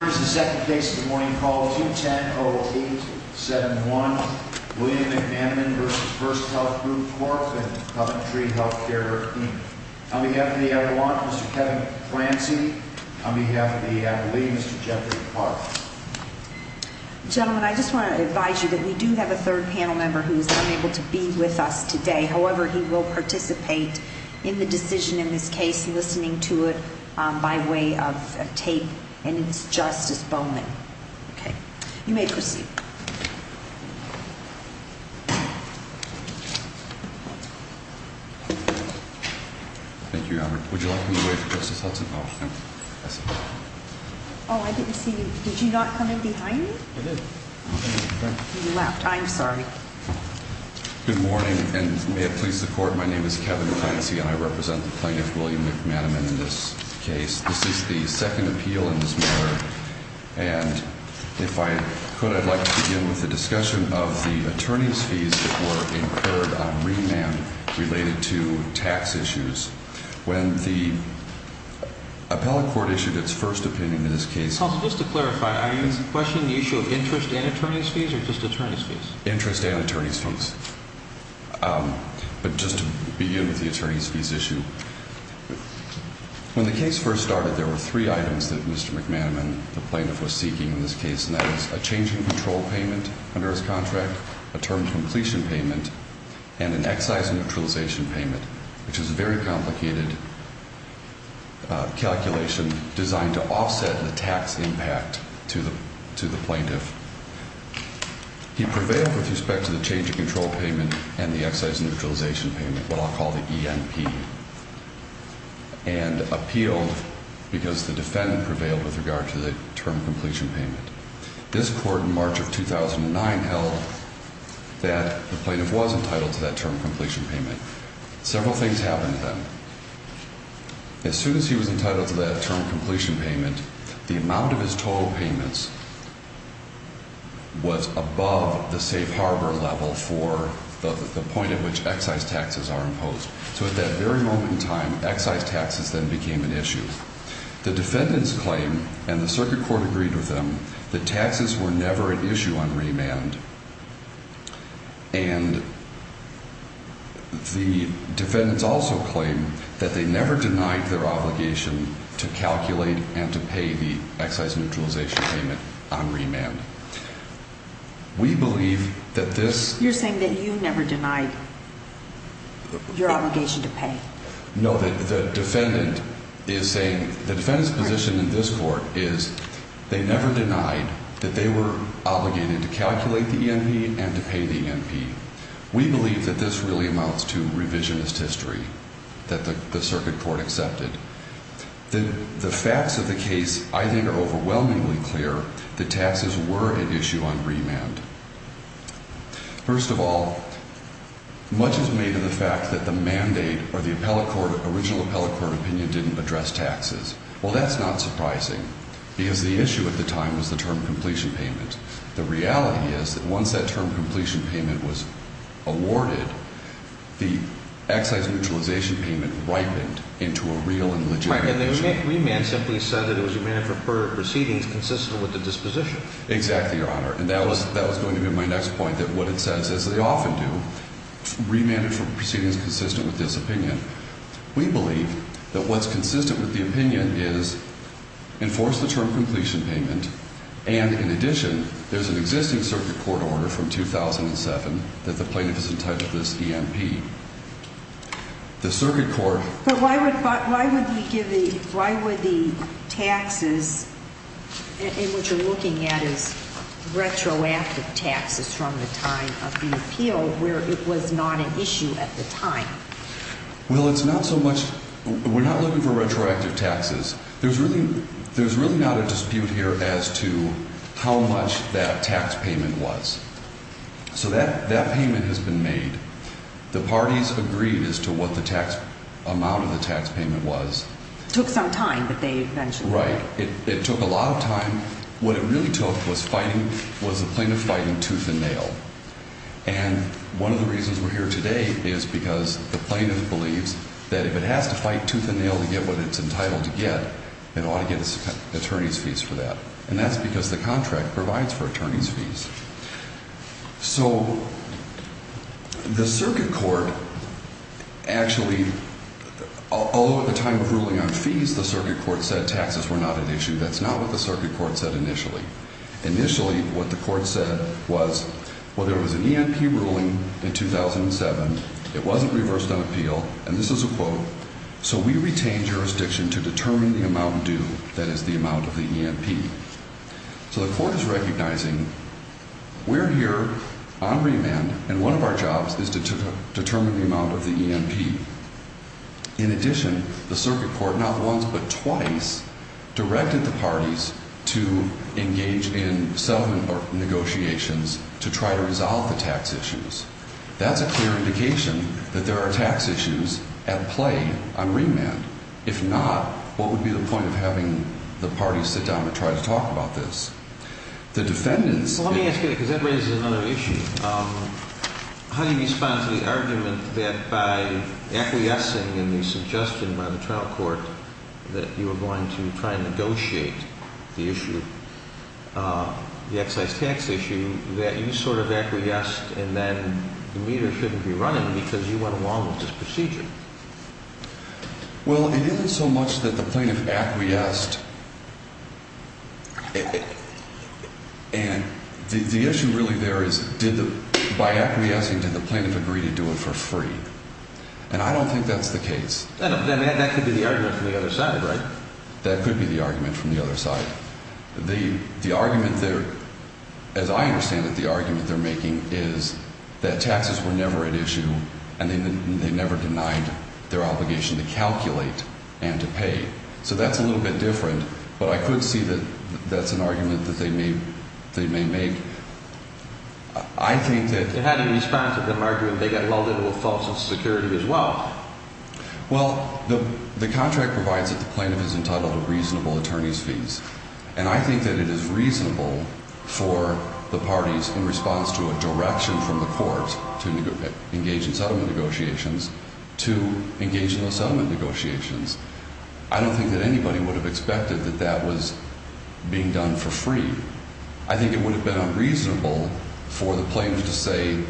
Here is the second case of the morning called 210-0871, William McManaman v. First Health Group Corp. and Coventry Health Care Team. On behalf of the Adelaide, Mr. Kevin Clancy. On behalf of the Adelaide, Mr. Jeffrey Clark. Gentlemen, I just want to advise you that we do have a third panel member who is unable to be with us today. However, he will participate in the decision in this case, listening to it by way of tape. And it's Justice Bowman. You may proceed. Thank you, Your Honor. Would you like me to wait for Justice Hudson? Oh, I didn't see you. Did you not come in behind me? I did. You left. I'm sorry. Good morning, and may it please the Court, my name is Kevin Clancy, and I represent the plaintiff, William McManaman, in this case. This is the second appeal in this matter, and if I could, I'd like to begin with the discussion of the attorney's fees that were incurred on remand related to tax issues. When the appellate court issued its first opinion in this case... Counsel, just to clarify, are you questioning the issue of interest and attorney's fees, or just attorney's fees? Interest and attorney's fees. But just to begin with the attorney's fees issue, when the case first started, there were three items that Mr. McManaman, the plaintiff, was seeking in this case, and that was a change in control payment under his contract, a term completion payment, and an excise neutralization payment, which is a very complicated calculation designed to offset the tax impact to the plaintiff. He prevailed with respect to the change in control payment and the excise neutralization payment, what I'll call the ENP, and appealed because the defendant prevailed with regard to the term completion payment. This Court in March of 2009 held that the plaintiff was entitled to that term completion payment. Several things happened then. As soon as he was entitled to that term completion payment, the amount of his total payments was above the safe harbor level for the point at which excise taxes are imposed. So at that very moment in time, excise taxes then became an issue. The defendants claim, and the circuit court agreed with them, that taxes were never an issue on remand. And the defendants also claim that they never denied their obligation to calculate and to pay the excise neutralization payment on remand. We believe that this... You're saying that you never denied your obligation to pay. No, the defendant is saying... The defendant's position in this Court is they never denied that they were obligated to calculate the ENP and to pay the ENP. We believe that this really amounts to revisionist history that the circuit court accepted. The facts of the case, I think, are overwhelmingly clear that taxes were an issue on remand. First of all, much is made of the fact that the mandate or the original appellate court opinion didn't address taxes. Well, that's not surprising, because the issue at the time was the term completion payment. The reality is that once that term completion payment was awarded, the excise neutralization payment ripened into a real and legitimate issue. And the remand simply said that it was a remand for proceedings consistent with the disposition. Exactly, Your Honor. And that was going to be my next point, that what it says, as they often do, remanded for proceedings consistent with this opinion. We believe that what's consistent with the opinion is enforce the term completion payment, and in addition, there's an existing circuit court order from 2007 that the plaintiff is entitled to this ENP. The circuit court... But why would he give the, why would the taxes, and what you're looking at is retroactive taxes from the time of the appeal, where it was not an issue at the time. Well, it's not so much, we're not looking for retroactive taxes. There's really not a dispute here as to how much that tax payment was. So that payment has been made. The parties agreed as to what the tax, amount of the tax payment was. It took some time, but they mentioned it. Right. It took a lot of time. What it really took was fighting, was the plaintiff fighting tooth and nail. And one of the reasons we're here today is because the plaintiff believes that if it has to fight tooth and nail to get what it's entitled to get, it ought to get its attorney's fees for that. So the circuit court actually, although at the time of ruling on fees, the circuit court said taxes were not an issue, that's not what the circuit court said initially. Initially, what the court said was, well, there was an ENP ruling in 2007. It wasn't reversed on appeal. And this is a quote. So we retained jurisdiction to determine the amount due, that is, the amount of the ENP. So the court is recognizing we're here on remand, and one of our jobs is to determine the amount of the ENP. In addition, the circuit court not once but twice directed the parties to engage in settlement negotiations to try to resolve the tax issues. That's a clear indication that there are tax issues at play on remand. If not, what would be the point of having the parties sit down and try to talk about this? Well, let me ask you, because that raises another issue. How do you respond to the argument that by acquiescing in the suggestion by the trial court that you were going to try and negotiate the issue, the excise tax issue, that you sort of acquiesced and then the meter shouldn't be running because you went along with this procedure? Well, it isn't so much that the plaintiff acquiesced. And the issue really there is did the – by acquiescing, did the plaintiff agree to do it for free? And I don't think that's the case. That could be the argument from the other side, right? That could be the argument from the other side. The argument there – as I understand it, the argument they're making is that taxes were never at issue and they never denied their obligation to calculate and to pay. So that's a little bit different. But I could see that that's an argument that they may make. I think that – It had in response to the argument they got lulled into a false sense of security as well. Well, the contract provides that the plaintiff is entitled to reasonable attorney's fees. And I think that it is reasonable for the parties in response to a direction from the courts to engage in settlement negotiations to engage in those settlement negotiations. I don't think that anybody would have expected that that was being done for free. I think it would have been unreasonable for the plaintiff to say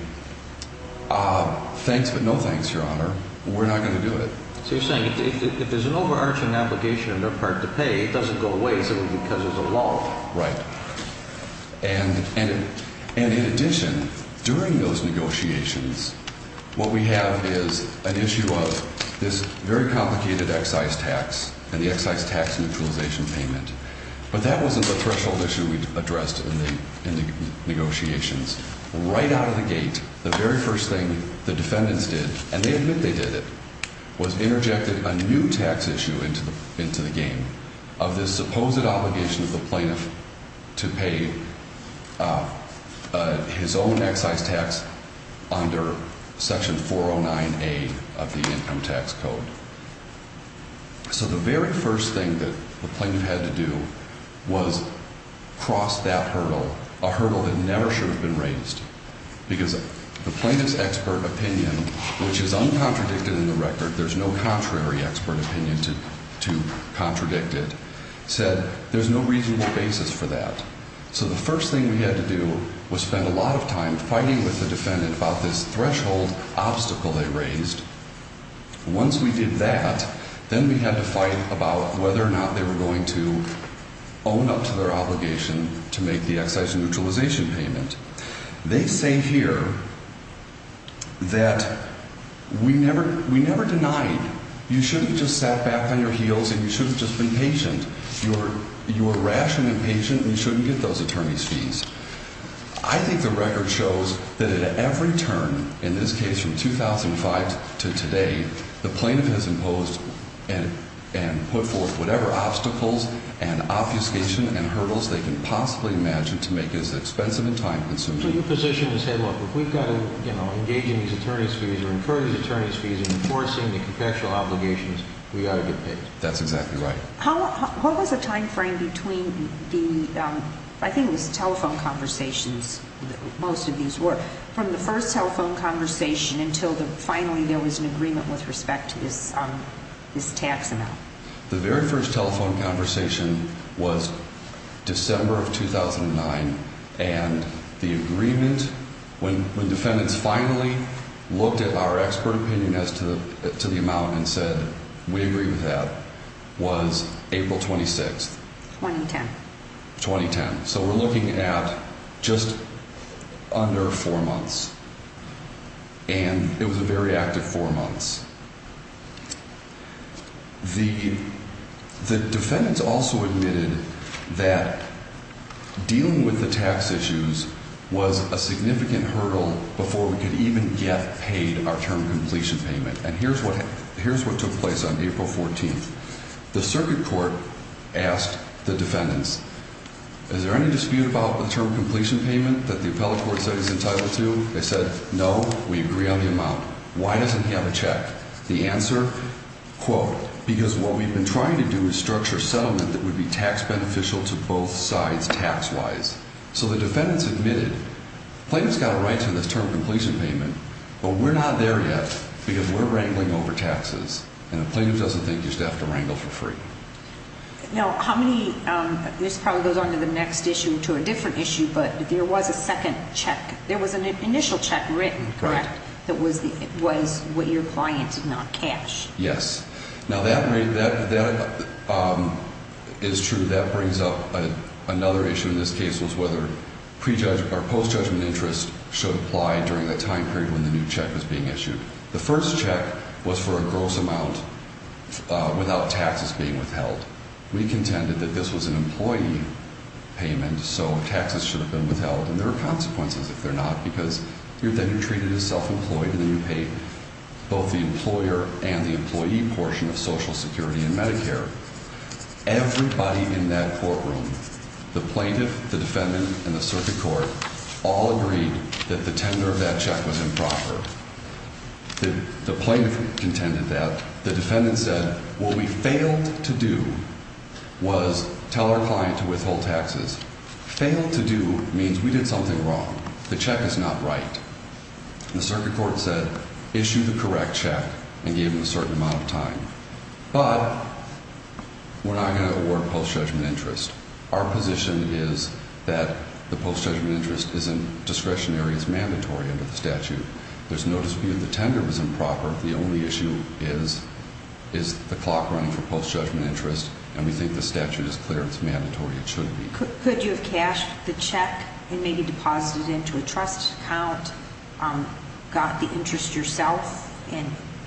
thanks but no thanks, Your Honor. We're not going to do it. So you're saying if there's an overarching obligation on their part to pay, it doesn't go away simply because there's a law. Right. And in addition, during those negotiations, what we have is an issue of this very complicated excise tax and the excise tax neutralization payment. But that wasn't the threshold issue we addressed in the negotiations. Right out of the gate, the very first thing the defendants did – and they admit they did it – was interjected a new tax issue into the game of this supposed obligation of the plaintiff to pay his own excise tax under Section 409A of the Income Tax Code. So the very first thing that the plaintiff had to do was cross that hurdle, a hurdle that never should have been raised, because the plaintiff's expert opinion, which is uncontradicted in the record – there's no contrary expert opinion to contradict it – said there's no reasonable basis for that. So the first thing we had to do was spend a lot of time fighting with the defendant about this threshold obstacle they raised. Once we did that, then we had to fight about whether or not they were going to own up to their obligation to make the excise neutralization payment. They say here that we never denied. You shouldn't have just sat back on your heels and you shouldn't have just been patient. You were rational and patient and you shouldn't get those attorney's fees. I think the record shows that at every turn, in this case from 2005 to today, the plaintiff has imposed and put forth whatever obstacles and obfuscation and hurdles they can possibly imagine to make it as expensive and time-consuming. So your position is, hey, look, if we've got to engage in these attorney's fees or incur these attorney's fees in enforcing the contextual obligations, we've got to get paid. That's exactly right. What was the timeframe between the, I think it was telephone conversations, most of these were, from the first telephone conversation until finally there was an agreement with respect to this tax amount? The very first telephone conversation was December of 2009, and the agreement, when defendants finally looked at our expert opinion as to the amount and said we agree with that, was April 26th. 2010. 2010. So we're looking at just under four months, and it was a very active four months. The defendants also admitted that dealing with the tax issues was a significant hurdle before we could even get paid our term completion payment, and here's what took place on April 14th. The circuit court asked the defendants, is there any dispute about the term completion payment that the appellate court said he's entitled to? They said, no, we agree on the amount. Why doesn't he have a check? The answer, quote, because what we've been trying to do is structure a settlement that would be tax beneficial to both sides tax-wise. So the defendants admitted, plaintiff's got a right to this term completion payment, but we're not there yet because we're wrangling over taxes, and the plaintiff doesn't think you just have to wrangle for free. Now, how many, this probably goes on to the next issue, to a different issue, but there was a second check. There was an initial check written, correct? That was what your client did not cash. Yes. Now, that is true. That brings up another issue in this case was whether post-judgment interest should apply during the time period when the new check was being issued. The first check was for a gross amount without taxes being withheld. We contended that this was an employee payment, so taxes should have been withheld, and there are consequences if they're not because then you're treated as self-employed, and then you pay both the employer and the employee portion of Social Security and Medicare. Everybody in that courtroom, the plaintiff, the defendant, and the circuit court, all agreed that the tender of that check was improper. The plaintiff contended that. The defendant said what we failed to do was tell our client to withhold taxes. Failed to do means we did something wrong. The check is not right. The circuit court said issue the correct check and give them a certain amount of time. But we're not going to award post-judgment interest. Our position is that the post-judgment interest is in discretionary, is mandatory under the statute. There's no dispute the tender was improper. The only issue is the clock running for post-judgment interest, and we think the statute is clear. It's mandatory. It should be. Could you have cashed the check and maybe deposited it into a trust account, got the interest yourself,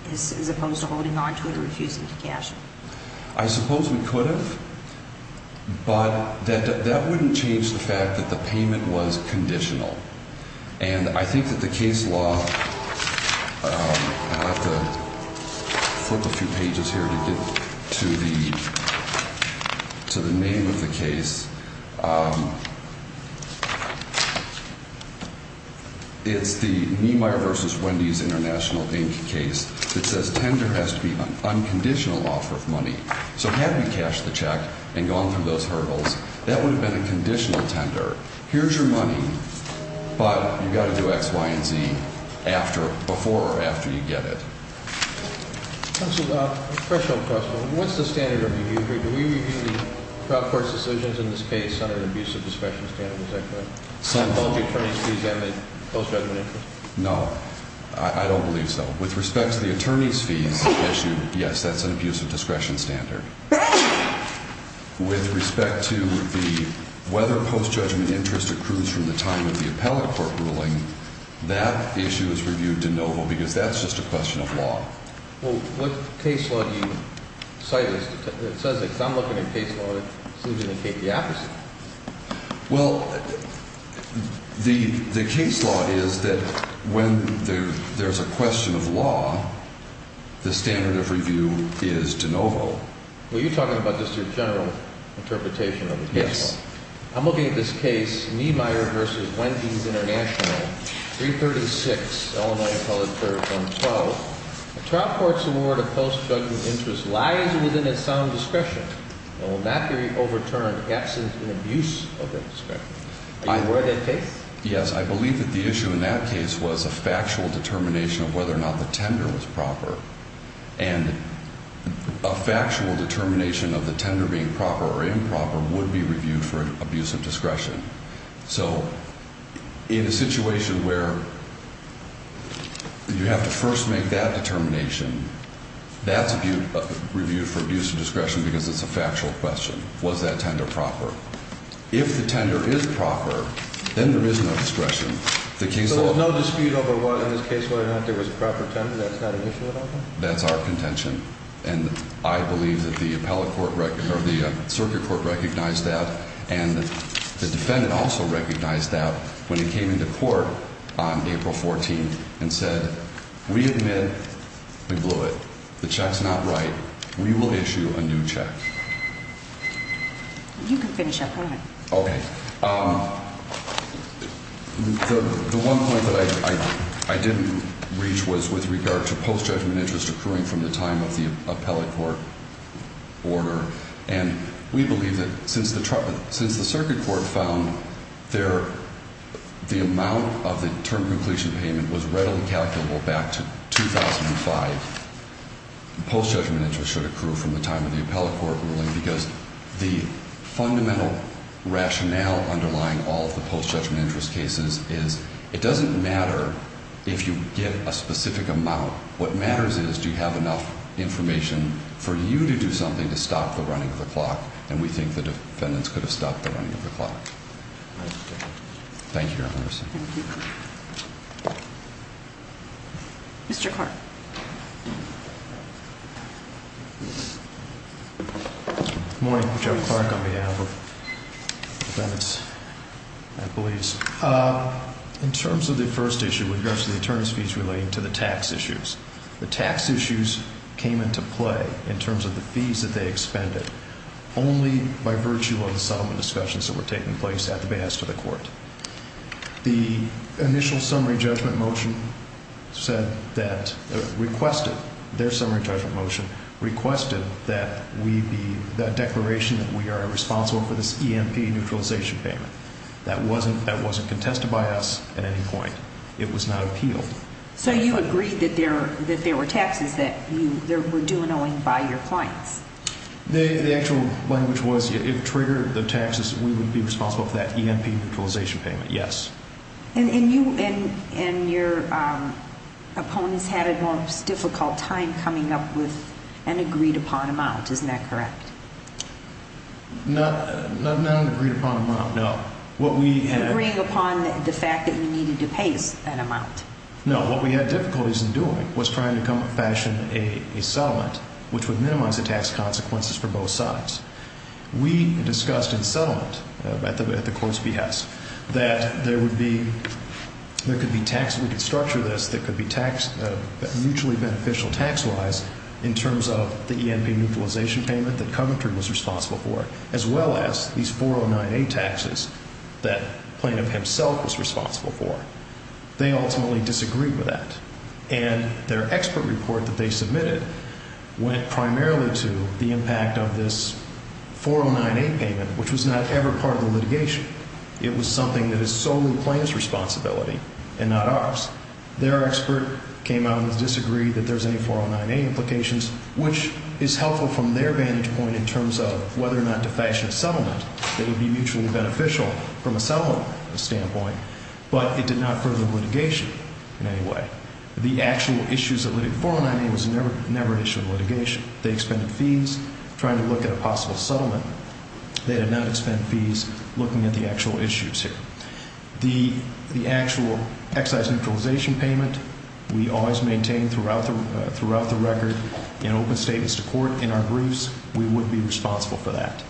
as opposed to holding on to it or refusing to cash it? I suppose we could have, but that wouldn't change the fact that the payment was conditional. And I think that the case law, I'll have to flip a few pages here to get to the name of the case. It's the Niemeyer v. Wendy's International, Inc. case that says tender has to be an unconditional offer of money. So had we cashed the check and gone through those hurdles, that would have been a conditional tender. Here's your money, but you've got to do X, Y, and Z before or after you get it. Counsel, a threshold question. What's the standard of review? Do we review the trial court's decisions in this case under the abuse of discretion standard? Is that correct? Sentence? Both the attorney's fees and the post-judgment interest? No, I don't believe so. With respect to the attorney's fees issue, yes, that's an abuse of discretion standard. With respect to the whether post-judgment interest accrues from the time of the appellate court ruling, that issue is reviewed de novo because that's just a question of law. Well, what case law do you cite that says that? Because I'm looking at case law that seems to indicate the opposite. Well, the case law is that when there's a question of law, the standard of review is de novo. Well, you're talking about just your general interpretation of the case law. Yes. I'm looking at this case, Niemeyer v. Wendy's International, 336, Illinois Appellate Court, 112. The trial court's award of post-judgment interest lies within its sound discretion and will not be overturned absent an abuse of that discretion. Are you aware of that case? Yes. I believe that the issue in that case was a factual determination of whether or not the tender was proper. And a factual determination of the tender being proper or improper would be reviewed for abuse of discretion. So in a situation where you have to first make that determination, that's reviewed for abuse of discretion because it's a factual question. Was that tender proper? If the tender is proper, then there is no discretion. So there was no dispute over whether or not there was a proper tender? That's not an issue at all? That's our contention. And I believe that the circuit court recognized that. And the defendant also recognized that when he came into court on April 14th and said, we admit we blew it. The check's not right. We will issue a new check. You can finish up. Go ahead. Okay. The one point that I didn't reach was with regard to post-judgment interest accruing from the time of the appellate court order. And we believe that since the circuit court found the amount of the term completion payment was readily calculable back to 2005, post-judgment interest should accrue from the time of the appellate court ruling, because the fundamental rationale underlying all of the post-judgment interest cases is it doesn't matter if you get a specific amount. What matters is, do you have enough information for you to do something to stop the running of the clock? And we think the defendants could have stopped the running of the clock. Thank you, Your Honor. Thank you. Mr. Clark. Good morning. Joe Clark on behalf of defendants and police. In terms of the first issue with regards to the attorney's fees relating to the tax issues, the tax issues came into play in terms of the fees that they expended only by virtue of the settlement discussions that were taking place at the behest of the court. The initial summary judgment motion said that, requested, their summary judgment motion requested that we be, that declaration that we are responsible for this EMP neutralization payment. That wasn't contested by us at any point. It was not appealed. So you agreed that there were taxes that were due and owing by your clients? The actual language was, if it triggered the taxes, we would be responsible for that EMP neutralization payment, yes. And you and your opponents had a more difficult time coming up with an agreed upon amount, isn't that correct? Not an agreed upon amount, no. Agreeing upon the fact that you needed to pay us that amount. No, what we had difficulties in doing was trying to fashion a settlement which would minimize the tax consequences for both sides. We discussed in settlement at the court's behest that there would be, there could be tax, we could structure this, that could be mutually beneficial tax-wise in terms of the EMP neutralization payment that Coventry was responsible for, as well as these 409A taxes that Plaintiff himself was responsible for. They ultimately disagreed with that. And their expert report that they submitted went primarily to the impact of this 409A payment, which was not ever part of the litigation. It was something that is solely Plaintiff's responsibility and not ours. Their expert came out and disagreed that there's any 409A implications, which is helpful from their vantage point in terms of whether or not to fashion a settlement that would be mutually beneficial from a settlement standpoint. But it did not further the litigation in any way. The actual issues that led to 409A was never an issue of litigation. They expended fees trying to look at a possible settlement. They did not expend fees looking at the actual issues here. The actual excise neutralization payment, we always maintain throughout the record, in open statements to court, in our briefs, we would be responsible for that.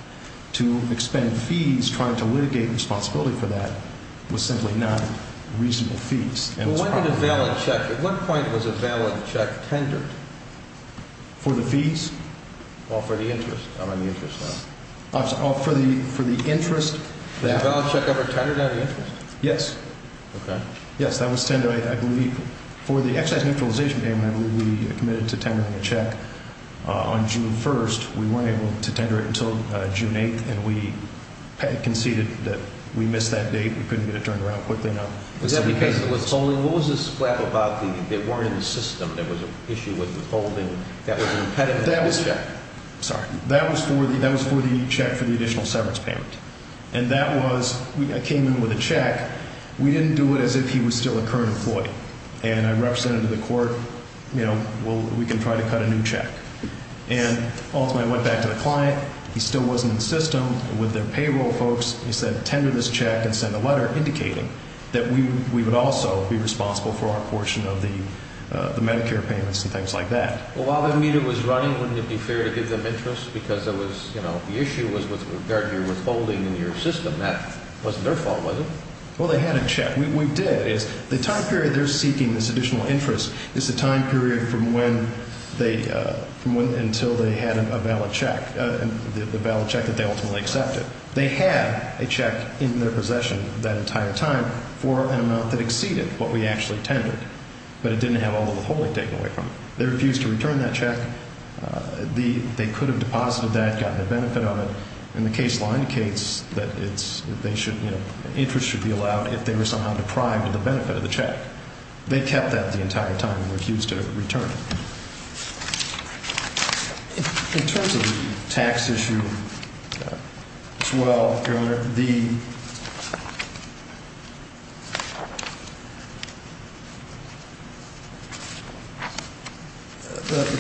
To expend fees trying to litigate responsibility for that was simply not reasonable fees. At what point was a valid check tendered? For the fees? Or for the interest? For the interest. Was a valid check ever tendered out of interest? Yes. Okay. Yes, that was tendered, I believe. For the excise neutralization payment, I believe we committed to tendering a check on June 1st. We weren't able to tender it until June 8th, and we conceded that we missed that date. We couldn't get it turned around quickly enough. Was that because it was holding? What was the splat about that weren't in the system? There was an issue with withholding that was an impediment to the check? That was for the check for the additional severance payment. And that was, I came in with a check. We didn't do it as if he was still a current employee. And I represented to the court, you know, we can try to cut a new check. And ultimately I went back to the client. He still wasn't in the system with their payroll folks. He said, tender this check and send a letter indicating that we would also be responsible for our portion of the Medicare payments and things like that. Well, while that meter was running, wouldn't it be fair to give them interest because there was, you know, the issue was with regard to your withholding in your system. That wasn't their fault, was it? Well, they had a check. We did. The time period they're seeking this additional interest is the time period from when they, until they had a valid check, the valid check that they ultimately accepted. They had a check in their possession that entire time for an amount that exceeded what we actually tendered. But it didn't have all the withholding taken away from it. They refused to return that check. They could have deposited that, gotten a benefit on it. And the case law indicates that interest should be allowed if they were somehow deprived of the benefit of the check. They kept that the entire time and refused to return it. In terms of the tax issue as well, Your Honor, the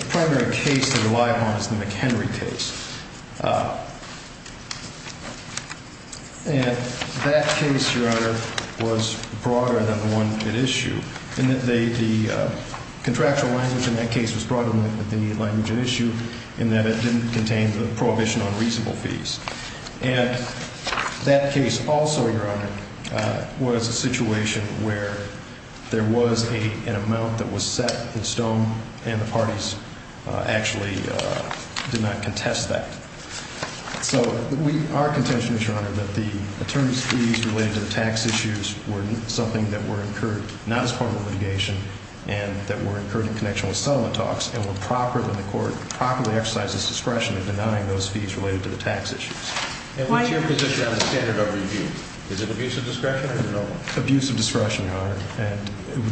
primary case to rely upon is the McHenry case. And that case, Your Honor, was broader than the one at issue in that the contractual language in that case was broader than the language at issue in that it didn't contain the prohibition on reasonable fees. And that case also, Your Honor, was a situation where there was an amount that was set in stone and the parties actually did not contest that. So our contention is, Your Honor, that the attorney's fees related to the tax issues were something that were incurred not as part of the litigation and that were incurred in connection with settlement talks and were proper that the court properly exercised its discretion in denying those fees related to the tax issues. And what's your position on the standard of review? Is it abuse of discretion or no? Abuse of discretion, Your Honor.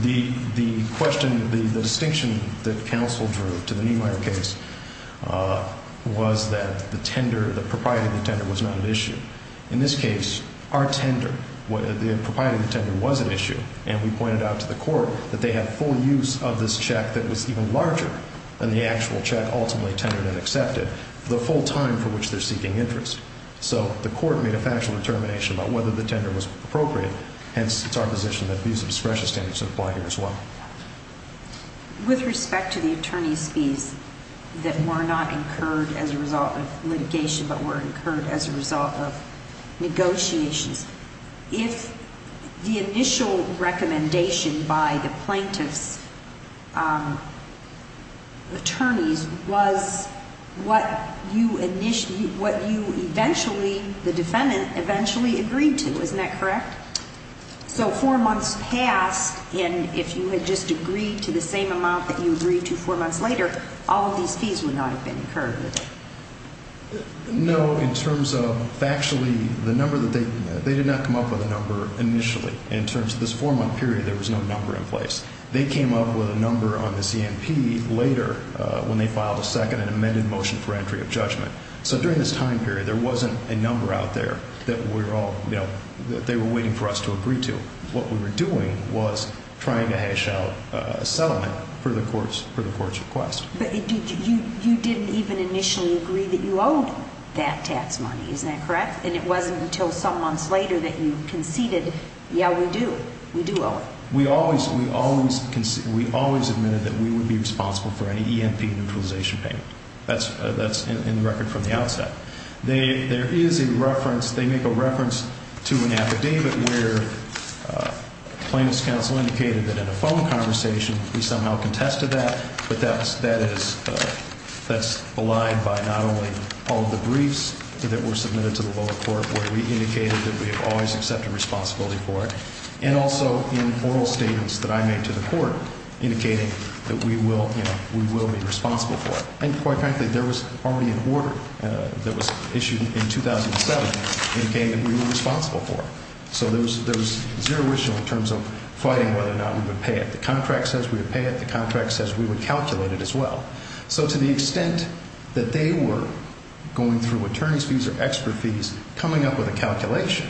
The distinction that counsel drew to the Niemeyer case was that the tender, the propriety of the tender was not at issue. In this case, our tender, the propriety of the tender was at issue. And we pointed out to the court that they have full use of this check that was even larger than the actual check ultimately tendered and accepted, the full time for which they're seeking interest. So the court made a factual determination about whether the tender was appropriate. Hence, it's our position that abuse of discretion standards apply here as well. With respect to the attorney's fees that were not incurred as a result of litigation but were incurred as a result of negotiations, if the initial recommendation by the plaintiff's attorneys was what you initially, what you eventually, the defendant eventually agreed to, isn't that correct? So four months passed, and if you had just agreed to the same amount that you agreed to four months later, all of these fees would not have been incurred, would they? No, in terms of factually, the number that they, they did not come up with a number initially. In terms of this four-month period, there was no number in place. They came up with a number on the CNP later when they filed a second and amended motion for entry of judgment. So during this time period, there wasn't a number out there that we were all, you know, that they were waiting for us to agree to. What we were doing was trying to hash out a settlement for the court's request. But you didn't even initially agree that you owed that tax money, isn't that correct? And it wasn't until some months later that you conceded, yeah, we do, we do owe it. We always, we always conceded, we always admitted that we would be responsible for any EMP neutralization payment. That's in the record from the outset. There is a reference, they make a reference to an affidavit where plaintiff's counsel indicated that in a phone conversation we somehow contested that, but that is, that's belied by not only all of the briefs that were submitted to the lower court where we indicated that we have always accepted responsibility for it, and also in oral statements that I made to the court indicating that we will, you know, we will be responsible for it. And quite frankly, there was already an order that was issued in 2007 indicating that we were responsible for it. So there was zero issue in terms of fighting whether or not we would pay it. The contract says we would pay it. The contract says we would calculate it as well. So to the extent that they were going through attorney's fees or expert fees coming up with a calculation,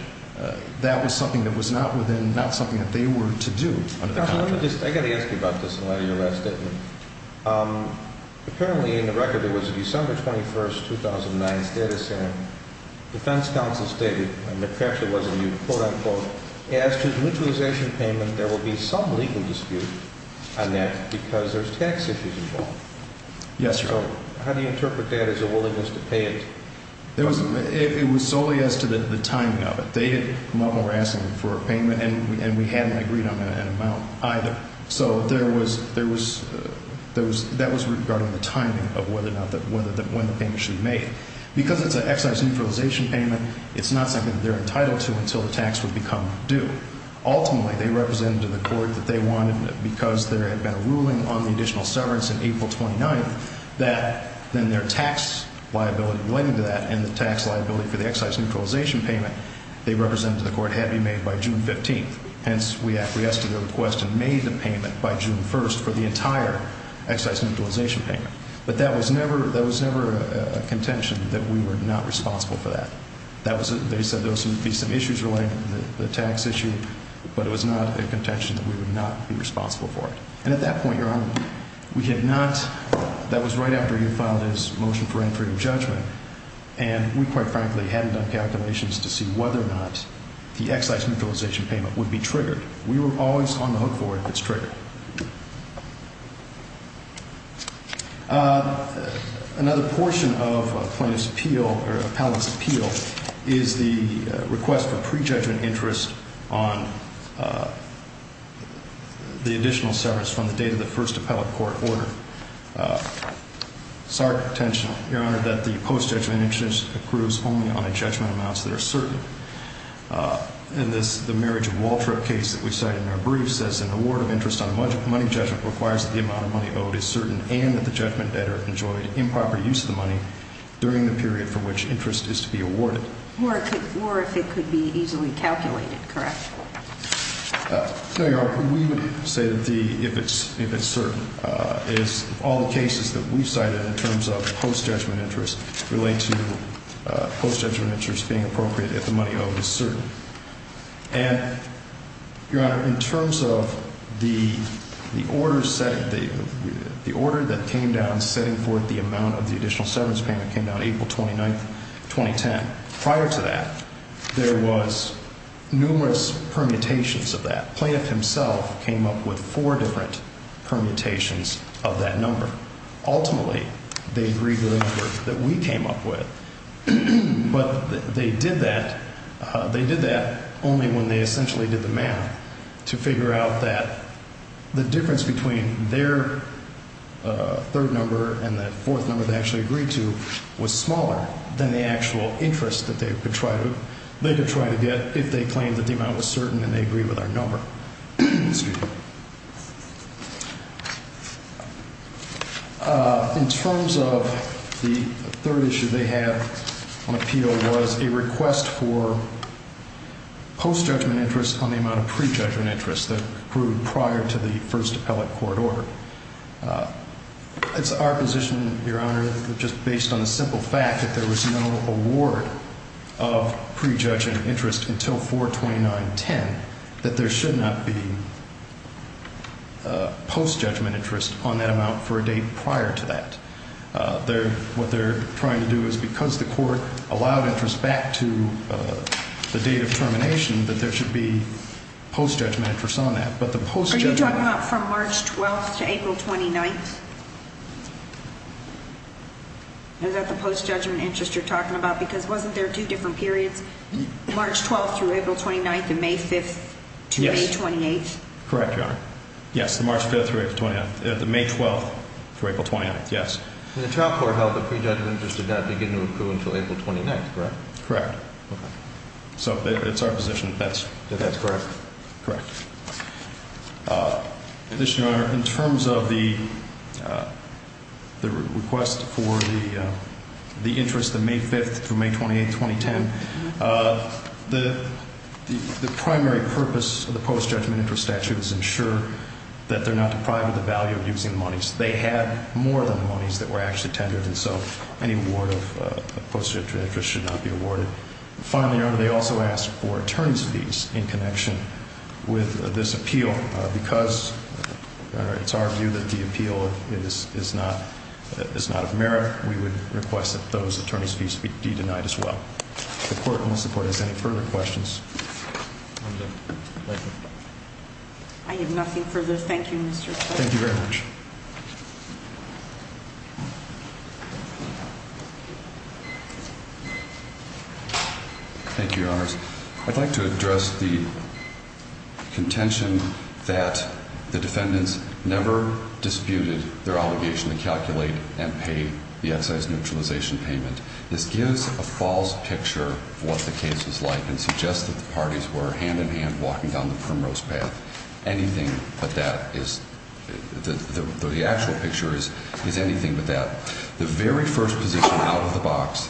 that was something that was not within, not something that they were to do under the contract. I got to ask you about this in light of your last statement. Apparently in the record there was a December 21, 2009, status hearing. The defense counsel stated, and perhaps it wasn't you, quote, unquote, as to the neutralization payment there will be some legal dispute on that because there's tax issues involved. Yes, Your Honor. So how do you interpret that as a willingness to pay it? It was solely as to the timing of it. They had no more asking for a payment, and we hadn't agreed on an amount either. So there was, there was, that was regarding the timing of whether or not, when the payment should be made. Because it's an excise neutralization payment, it's not something that they're entitled to until the tax would become due. Ultimately, they represented to the court that they wanted, because there had been a ruling on the additional severance on April 29th, that then their tax liability relating to that and the tax liability for the excise neutralization payment, they represented to the court, had to be made by June 15th. Hence, we acquiesced to their request and made the payment by June 1st for the entire excise neutralization payment. But that was never, that was never a contention that we were not responsible for that. That was, they said there would be some issues relating to the tax issue, but it was not a contention that we would not be responsible for it. And at that point, Your Honor, we had not, that was right after you filed his motion for interim judgment, and we quite frankly hadn't done calculations to see whether or not the excise neutralization payment would be triggered. We were always on the hook for it if it's triggered. Another portion of plaintiff's appeal, or appellant's appeal, is the request for pre-judgment interest on the additional severance from the date of the first appellate court order. It's our contention, Your Honor, that the post-judgment interest accrues only on a judgment amounts that are certain. In this, the marriage of Waltra case that we cited in our brief says an award of interest on money judgment requires that the amount of money owed is certain and that the judgment debtor enjoyed improper use of the money during the period for which interest is to be awarded. Or if it could be easily calculated, correct? No, Your Honor, we would say that the, if it's certain, is all the cases that we've cited in terms of post-judgment interest relate to post-judgment interest being appropriate if the money owed is certain. And, Your Honor, in terms of the order setting, the order that came down setting forth the amount of the additional severance payment came down April 29, 2010. Prior to that, there was numerous permutations of that. Plaintiff himself came up with four different permutations of that number. Ultimately, they agreed to the number that we came up with. But they did that, they did that only when they essentially did the math to figure out that the difference between their third number and that fourth number they actually agreed to was smaller than the actual interest that they could try to, if they claimed that the amount was certain and they agreed with our number. In terms of the third issue they have on appeal was a request for post-judgment interest on the amount of pre-judgment interest that grew prior to the first appellate court order. It's our position, Your Honor, just based on the simple fact that there was no award of pre-judgment interest until 4-29-10 that there should not be post-judgment interest on that amount for a date prior to that. What they're trying to do is because the court allowed interest back to the date of termination, that there should be post-judgment interest on that. Are you talking about from March 12th to April 29th? Is that the post-judgment interest you're talking about? Because wasn't there two different periods? March 12th through April 29th and May 5th to May 28th? Yes. Correct, Your Honor. Yes, March 5th through April 28th. May 12th through April 29th, yes. And the trial court held that pre-judgment interest did not begin to accrue until April 29th, correct? Correct. Okay. So it's our position that that's correct. Correct. In addition, Your Honor, in terms of the request for the interest of May 5th through May 28th, 2010, the primary purpose of the post-judgment interest statute is to ensure that they're not deprived of the value of using the monies. They had more than the monies that were actually tendered, and so any award of post-judgment interest should not be awarded. Finally, Your Honor, they also asked for attorney's fees in connection with this appeal. Because it's our view that the appeal is not of merit, we would request that those attorney's fees be denied as well. The court, unless the court has any further questions. I have nothing further. Thank you, Mr. Judge. Thank you very much. Thank you, Your Honors. I'd like to address the contention that the defendants never disputed their obligation to calculate and pay the excise neutralization payment. This gives a false picture of what the case was like and suggests that the parties were hand-in-hand walking down the primrose path. Anything but that is – the actual picture is anything but that. The very first position out of the box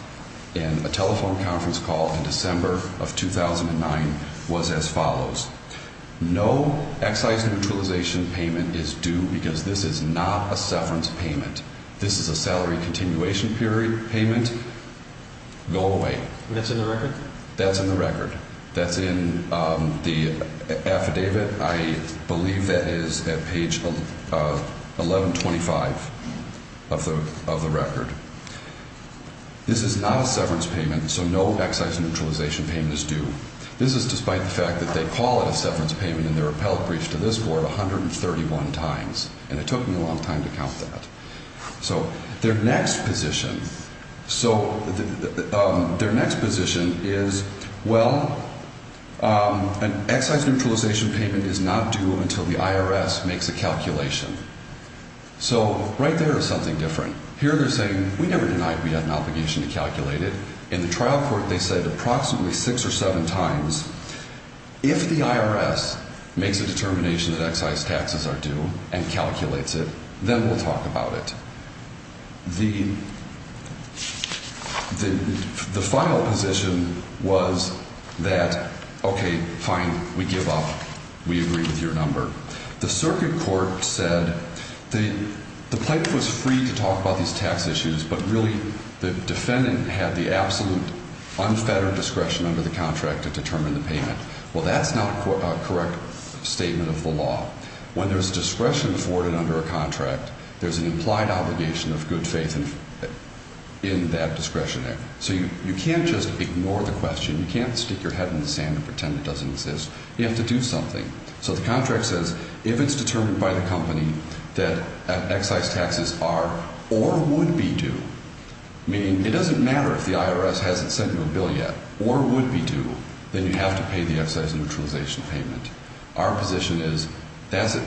in a telephone conference call in December of 2009 was as follows. No excise neutralization payment is due because this is not a severance payment. This is a salary continuation payment. Go away. And that's in the record? That's in the record. That's in the affidavit. I believe that is at page 1125 of the record. This is not a severance payment, so no excise neutralization payment is due. This is despite the fact that they call it a severance payment in their appellate brief to this board 131 times. And it took me a long time to count that. So their next position is, well, an excise neutralization payment is not due until the IRS makes a calculation. So right there is something different. Here they're saying, we never denied we had an obligation to calculate it. In the trial court they said approximately six or seven times, if the IRS makes a determination that excise taxes are due and calculates it, then we'll talk about it. The final position was that, okay, fine, we give up. We agree with your number. The circuit court said the plaintiff was free to talk about these tax issues, but really the defendant had the absolute unfettered discretion under the contract to determine the payment. Well, that's not a correct statement of the law. When there's discretion afforded under a contract, there's an implied obligation of good faith in that discretionary. So you can't just ignore the question. You can't stick your head in the sand and pretend it doesn't exist. You have to do something. So the contract says if it's determined by the company that excise taxes are or would be due, meaning it doesn't matter if the IRS hasn't sent you a bill yet or would be due, then you have to pay the excise neutralization payment. Our position is that's a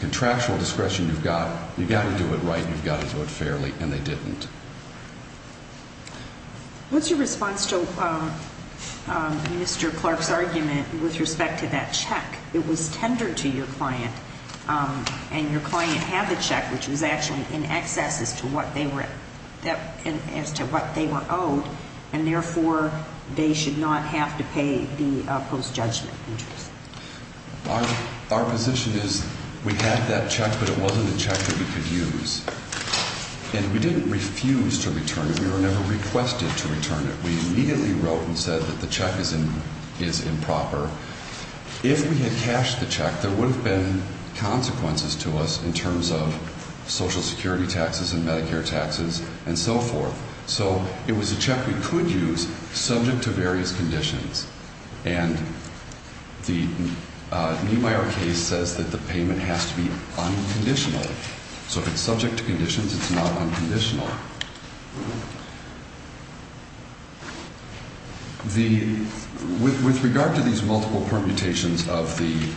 contractual discretion you've got. You've got to do it right. You've got to do it fairly, and they didn't. What's your response to Mr. Clark's argument with respect to that check? It was tendered to your client, and your client had the check, which was actually in excess as to what they were owed, and therefore they should not have to pay the post-judgment interest. Our position is we had that check, but it wasn't a check that we could use. And we didn't refuse to return it. We were never requested to return it. We immediately wrote and said that the check is improper. If we had cashed the check, there would have been consequences to us in terms of Social Security taxes and Medicare taxes and so forth. So it was a check we could use subject to various conditions. And the Niemeyer case says that the payment has to be unconditional. So if it's subject to conditions, it's not unconditional. With regard to these multiple permutations of the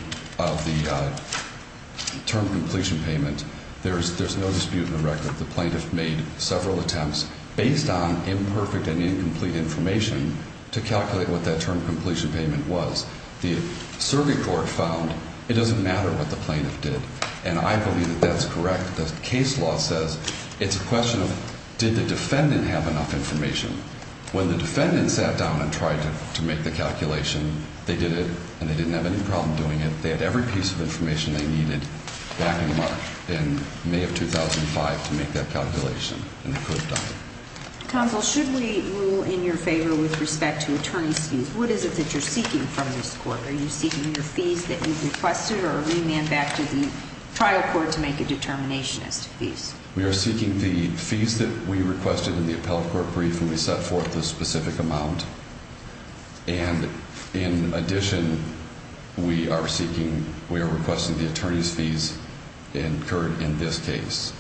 term completion payment, there's no dispute in the record. The plaintiff made several attempts based on imperfect and incomplete information to calculate what that term completion payment was. The circuit court found it doesn't matter what the plaintiff did. And I believe that that's correct. The case law says it's a question of did the defendant have enough information. When the defendant sat down and tried to make the calculation, they did it, and they didn't have any problem doing it. They had every piece of information they needed back in March, in May of 2005, to make that calculation, and they could have done it. Counsel, should we rule in your favor with respect to attorney's fees? What is it that you're seeking from this court? Are you seeking your fees that you've requested or a remand back to the trial court to make a determination as to fees? We are seeking the fees that we requested in the appellate court brief when we set forth the specific amount. And in addition, we are seeking, we are requesting the attorney's fees incurred in this case.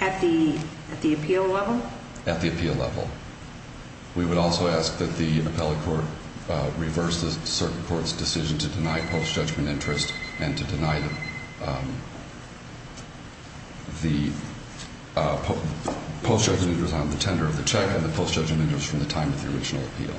At the appeal level? At the appeal level. We would also ask that the appellate court reverse the circuit court's decision to deny post-judgment interest and to deny the post-judgment interest on the tender of the check and the post-judgment interest from the time of the original appeal.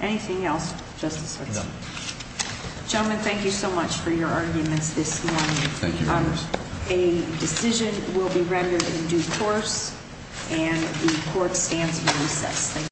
Anything else, Justice Switzer? No. Gentlemen, thank you so much for your arguments this morning. Thank you, Your Honors. A decision will be rendered in due course, and the court stands by this. Thank you.